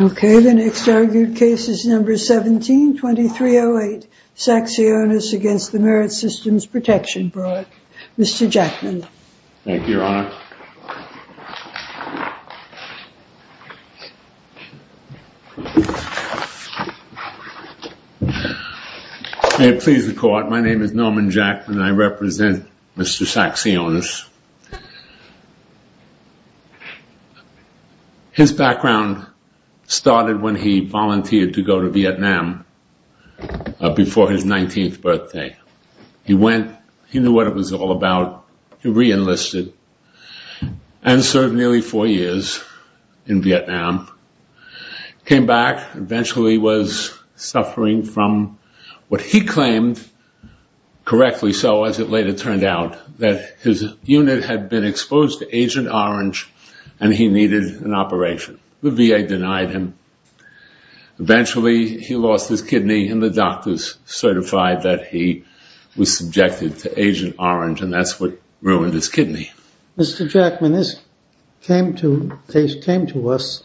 Okay, the next argued case is number 17-2308, Saxionis against the Merit Systems Protection Board, Mr. Jackman. MR. JACKMAN May it please the court, my name is Norman Jackman and I represent Mr. Saxionis. His background started when he volunteered to do what it was all about. He re-enlisted and served nearly four years in Vietnam. Came back, eventually was suffering from what he claimed, correctly so as it later turned out, that his unit had been exposed to Agent Orange and he needed an operation. The VA denied him. Eventually he lost his kidney and the doctors certified that he was subjected to Agent Orange and that's what ruined his kidney. MR. JACKMAN Mr. Jackman, this case came to us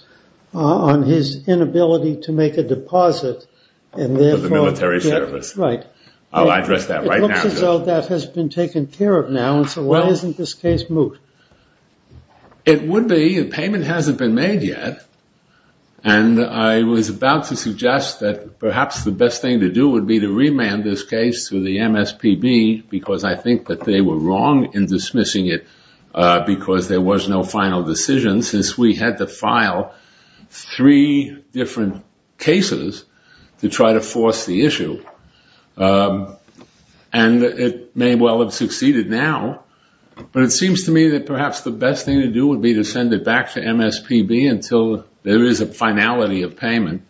on his inability to make a deposit and therefore… MR. JACKMAN …of the military service. I'll address that right now. MR. JACKMAN It looks as though that has been taken care of now and so why isn't this case moot? MR. JACKMAN It would be, a payment hasn't been made yet and I was about to suggest that perhaps the best thing to do would be to remand this case to the MSPB because I think that they were wrong in dismissing it because there was no final decision since we had to file three different cases to try to force the issue. And it may well have succeeded now but it seems to me that perhaps the best thing to do would be to send it back to MSPB until there is a finality of payment.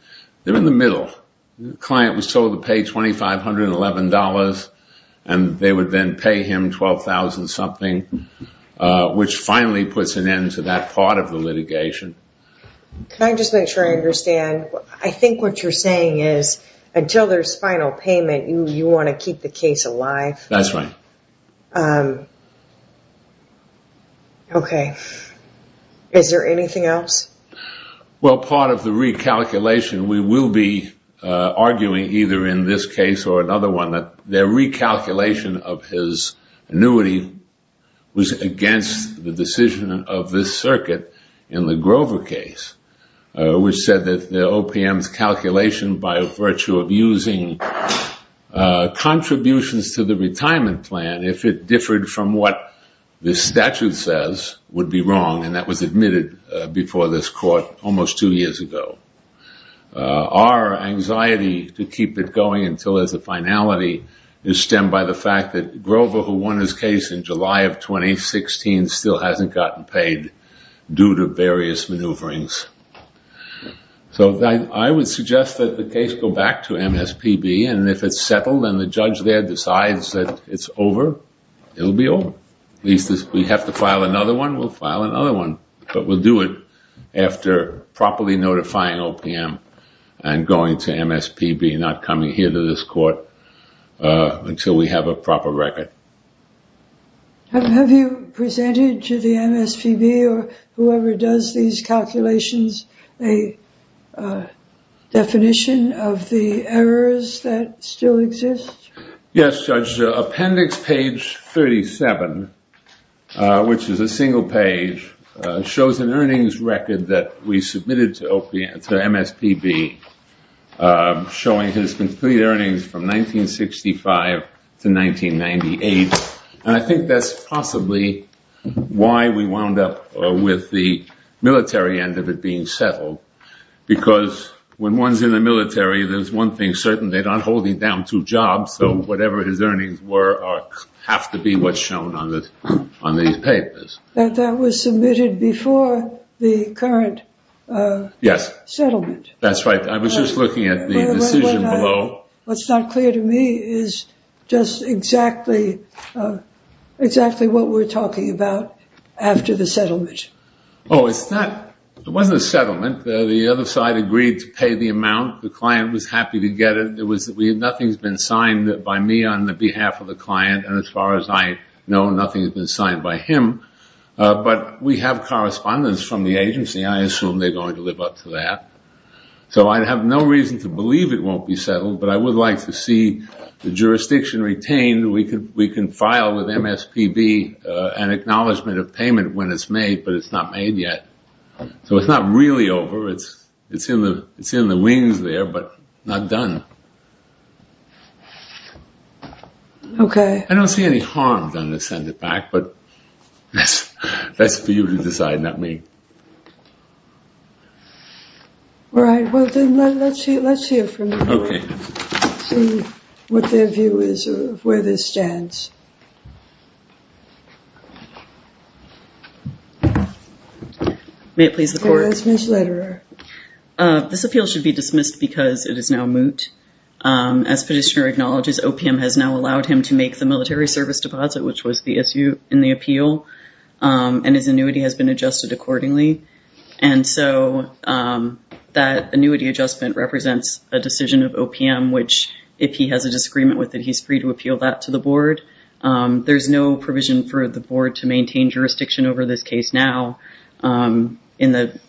They're in the middle. The client was told to pay $2,511 and they would then pay him $12,000 something which finally puts an end to that part of the litigation. MS. STOLAR Can I just make sure I understand? I think what you're saying is until there is final payment you want to keep the case alive? MR. JACKMAN That's right. MS. STOLAR Okay. Is there anything else? MR. JACKMAN Well, part of the recalculation we will be arguing either in this case or another one that their recalculation of his annuity was against the decision of this circuit in the Grover case which said that the OPM's calculation by virtue of using contributions to the retirement plan if it differed from what the statute says would be wrong and that was admitted before this court almost two years ago. Our anxiety to keep it going until there's a finality is stemmed by the fact that Grover who won his case in July of 2016 still hasn't gotten paid due to various maneuverings. So I would suggest that the case go back to MSPB and if it's settled and the judge there decides that it's over, it will be over. At least we have to file another one, we'll file another one, but we'll do it after properly notifying OPM and going to MSPB and not coming here to this court until we have a proper record. MS. STOLAR Have you presented to the MSPB or whoever does these calculations a definition of the errors that still exist? MR. BROWN Yes, Judge. Appendix page 37, which is a single page, shows an earnings record that we submitted to MSPB showing his complete earnings from 1965 to 1998 and I think that's possibly why we wound up with the military end of it being settled because when one's in the military, there's one thing certain, they're not holding down two jobs, so whatever his earnings were have to be what's shown on these papers. MS. STOLAR That was submitted before the current settlement. MR. BROWN Yes, that's right. I was just looking at the decision below. MS. STOLAR What's not clear to me is just exactly what we're talking about after the settlement. MR. BROWN Oh, it's not, it wasn't a settlement. The other side agreed to pay the amount. The client was happy to get it. Nothing's been signed by me on behalf of the client and as far as I know, nothing's been signed by him, but we have correspondence from the agency. I assume they're going to live up to that. So I have no reason to believe it won't be settled, but I would like to see the jurisdiction retained. We can file with MSPB an acknowledgement of payment when it's made, but it's not made over. It's in the wings there, but not done. I don't see any harm done to send it back, but that's for you to decide, not me. MS. STOLAR All right, well, then let's hear from them. Okay. Let's see what their view is of where this stands. MS. LITTERER May it please the Court? MS. STOLAR Yes, Ms. Litterer. MS. LITTERER This appeal should be dismissed because it is now moot. As petitioner acknowledges, OPM has now allowed him to make the military service deposit, which was the issue in the appeal, and his annuity has been adjusted accordingly, and so that annuity adjustment represents a decision of OPM, which if he has a disagreement with it, he's free to appeal that to the Board. There's no provision for the Board to maintain jurisdiction over this case now in the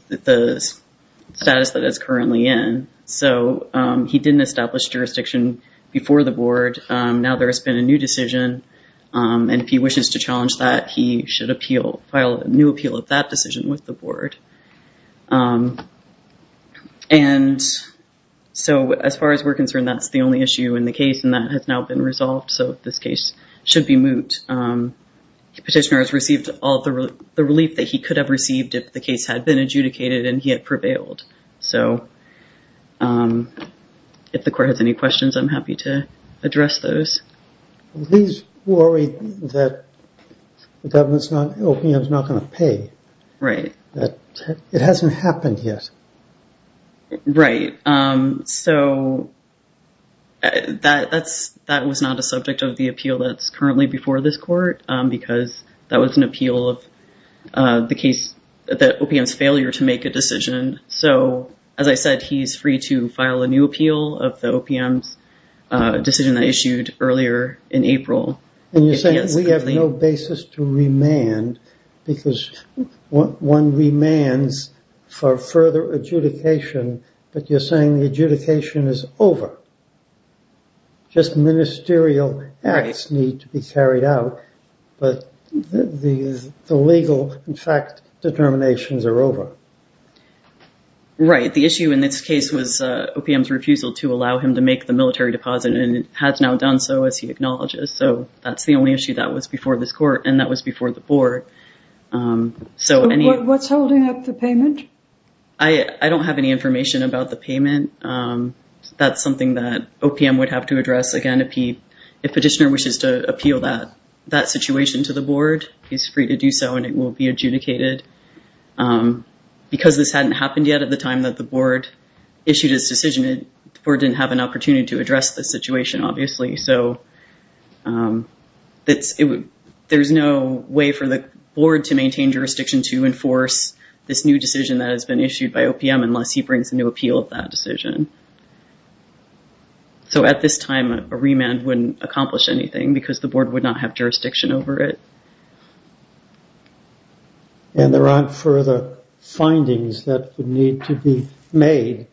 status that it's currently in, so he didn't establish jurisdiction before the Board. Now there has been a new decision, and if he wishes to challenge that, he should appeal, file a new appeal of that decision with the Board. And so as far as we're concerned, that's the only issue in the case, and that has now been resolved, so this case should be moot. Petitioner has received all the relief that he could have received if the case had been adjudicated and he had prevailed. So if the Court has any questions, I'm happy to address those. MR. BOUTROUS Please worry that the government's not going to pay. It hasn't happened yet. MS. MCDOWELL Right. So that was not a subject of the appeal that's currently before this Court, because that was an appeal of the case that OPM's failure to make a decision. So as I said, he's free to file a new appeal of the OPM's decision that issued earlier in April. MR. BOUTROUS And you're saying we have no basis to remand, because one remands for further adjudication, but you're saying the adjudication is over. Just ministerial acts need to be carried out, but the legal, in fact, determinations are over. MS. MCDOWELL Right. The issue in this case was OPM's refusal to allow him to make the decision. That's the only issue that was before this Court and that was before the Board. MR. BOUTROUS So what's holding up the payment? MS. MCDOWELL I don't have any information about the payment. That's something that OPM would have to address. Again, if a petitioner wishes to appeal that situation to the Board, he's free to do so and it will be adjudicated. Because this hadn't happened yet at the time that the Board issued his decision, the Board didn't have an opportunity to address the situation, obviously. So there's no way for the Board to maintain jurisdiction to enforce this new decision that has been issued by OPM unless he brings a new appeal of that decision. So at this time, a remand wouldn't accomplish anything because the Board would not have jurisdiction over it. MR. BOUTROUS And there aren't further findings that would need to be made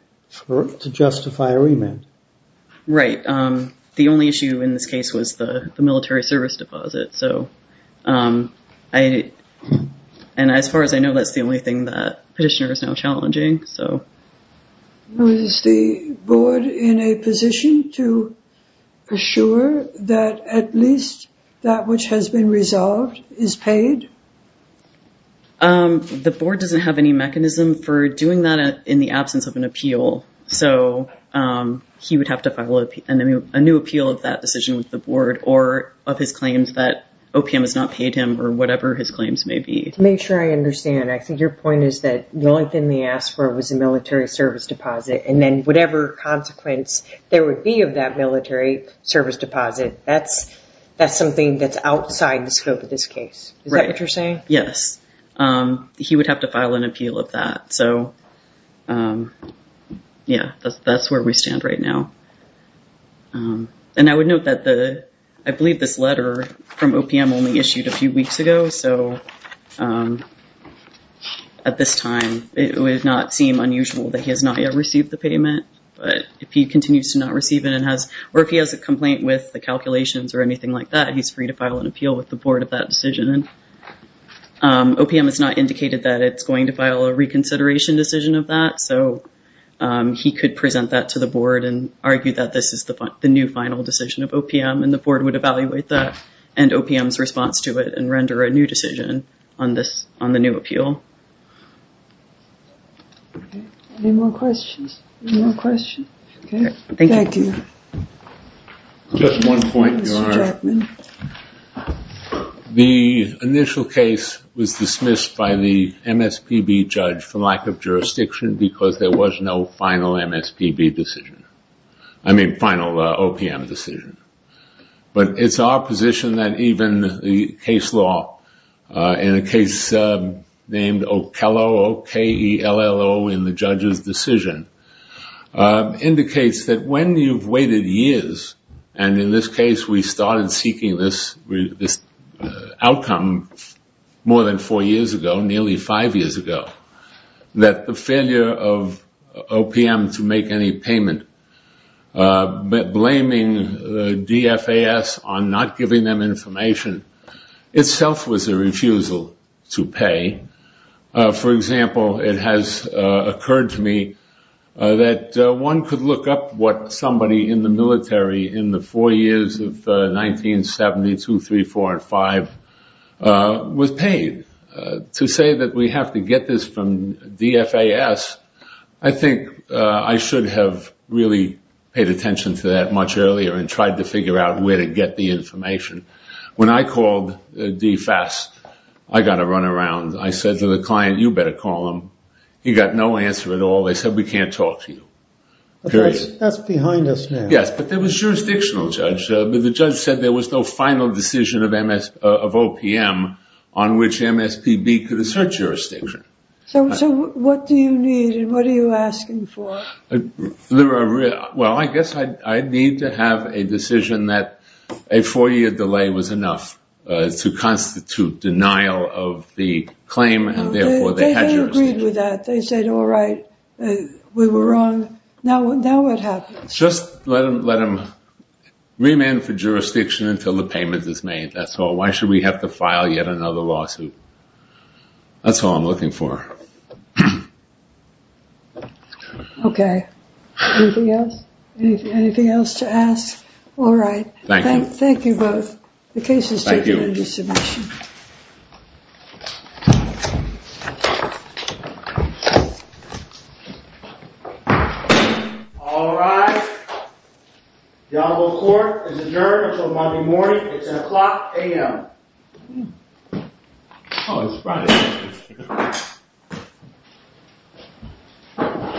to justify a remand. MS. MCDOWELL Right. The only issue in this case was the military service deposit. And as far as I know, that's the only thing that petitioner is now challenging. MR. BOUTROUS Is the Board in a position to assure that at least that which has been resolved is paid? MS. MCDOWELL The Board doesn't have any mechanism for doing that in the absence of an appeal. So he would have to file a new appeal of that decision with the Board or of his claims that OPM has not paid him or whatever his claims may be. MS. MCDOWELL To make sure I understand, I think your point is that the only thing they asked for was a military service deposit. And then whatever consequence there would be of that military service deposit, that's something that's outside the scope of this case. Is that what you're saying? MS. MCDOWELL Yes. He would have to file an appeal of that. So yeah, that's where we stand right now. And I would note that I believe this letter from OPM only issued a few weeks ago. So at this time, it would not seem unusual that he has not yet received the payment. But if he continues to not receive it or if he has a complaint with the calculations or anything like that, he's free to file an appeal with the Board of that decision. OPM has not indicated that it's going to file a reconsideration decision of that. So he could present that to the Board and argue that this is the new final decision of OPM. And the Board would evaluate that and OPM's response to it and render a new decision on the new appeal. MS. MCDOWELL Any more questions? MR. JACKSON Just one point, Your Honor. The initial case was dismissed by the MSPB judge for lack of jurisdiction because there was no final MSPB decision. I mean final OPM decision. But it's our position that even the case law in a case named Okello, O-K-E-L-L-O, in the case indicates that when you've waited years, and in this case we started seeking this outcome more than four years ago, nearly five years ago, that the failure of OPM to make any payment blaming the DFAS on not giving them information itself was a refusal to pay. For example, it has occurred to me that one could look up what somebody in the military in the four years of 1970, two, three, four, and five, was paid. To say that we have to get this from DFAS, I think I should have really paid attention to that much earlier and tried to figure out where to get the information. When I called DFAS, I got a run around. I said to the client, you better call them. He got no answer at all. They said we can't talk to you. Period. That's behind us now. Yes, but there was jurisdictional judgment. The judge said there was no final decision of OPM on which MSPB could assert jurisdiction. So what do you need and what are you asking for? Well I guess I need to have a decision that a four year delay was enough to constitute denial of the claim and therefore they had jurisdiction. No, they had agreed with that. They said all right, we were wrong. Now what happens? Just let them remand for jurisdiction until the payment is made. That's all. Why should we have to file yet another lawsuit? That's all I'm looking for. Okay. Anything else? Anything else to ask? All right. Thank you. Thank you both. The case is taken under submission. All right. The honorable court is adjourned until Monday morning at 10 o'clock a.m.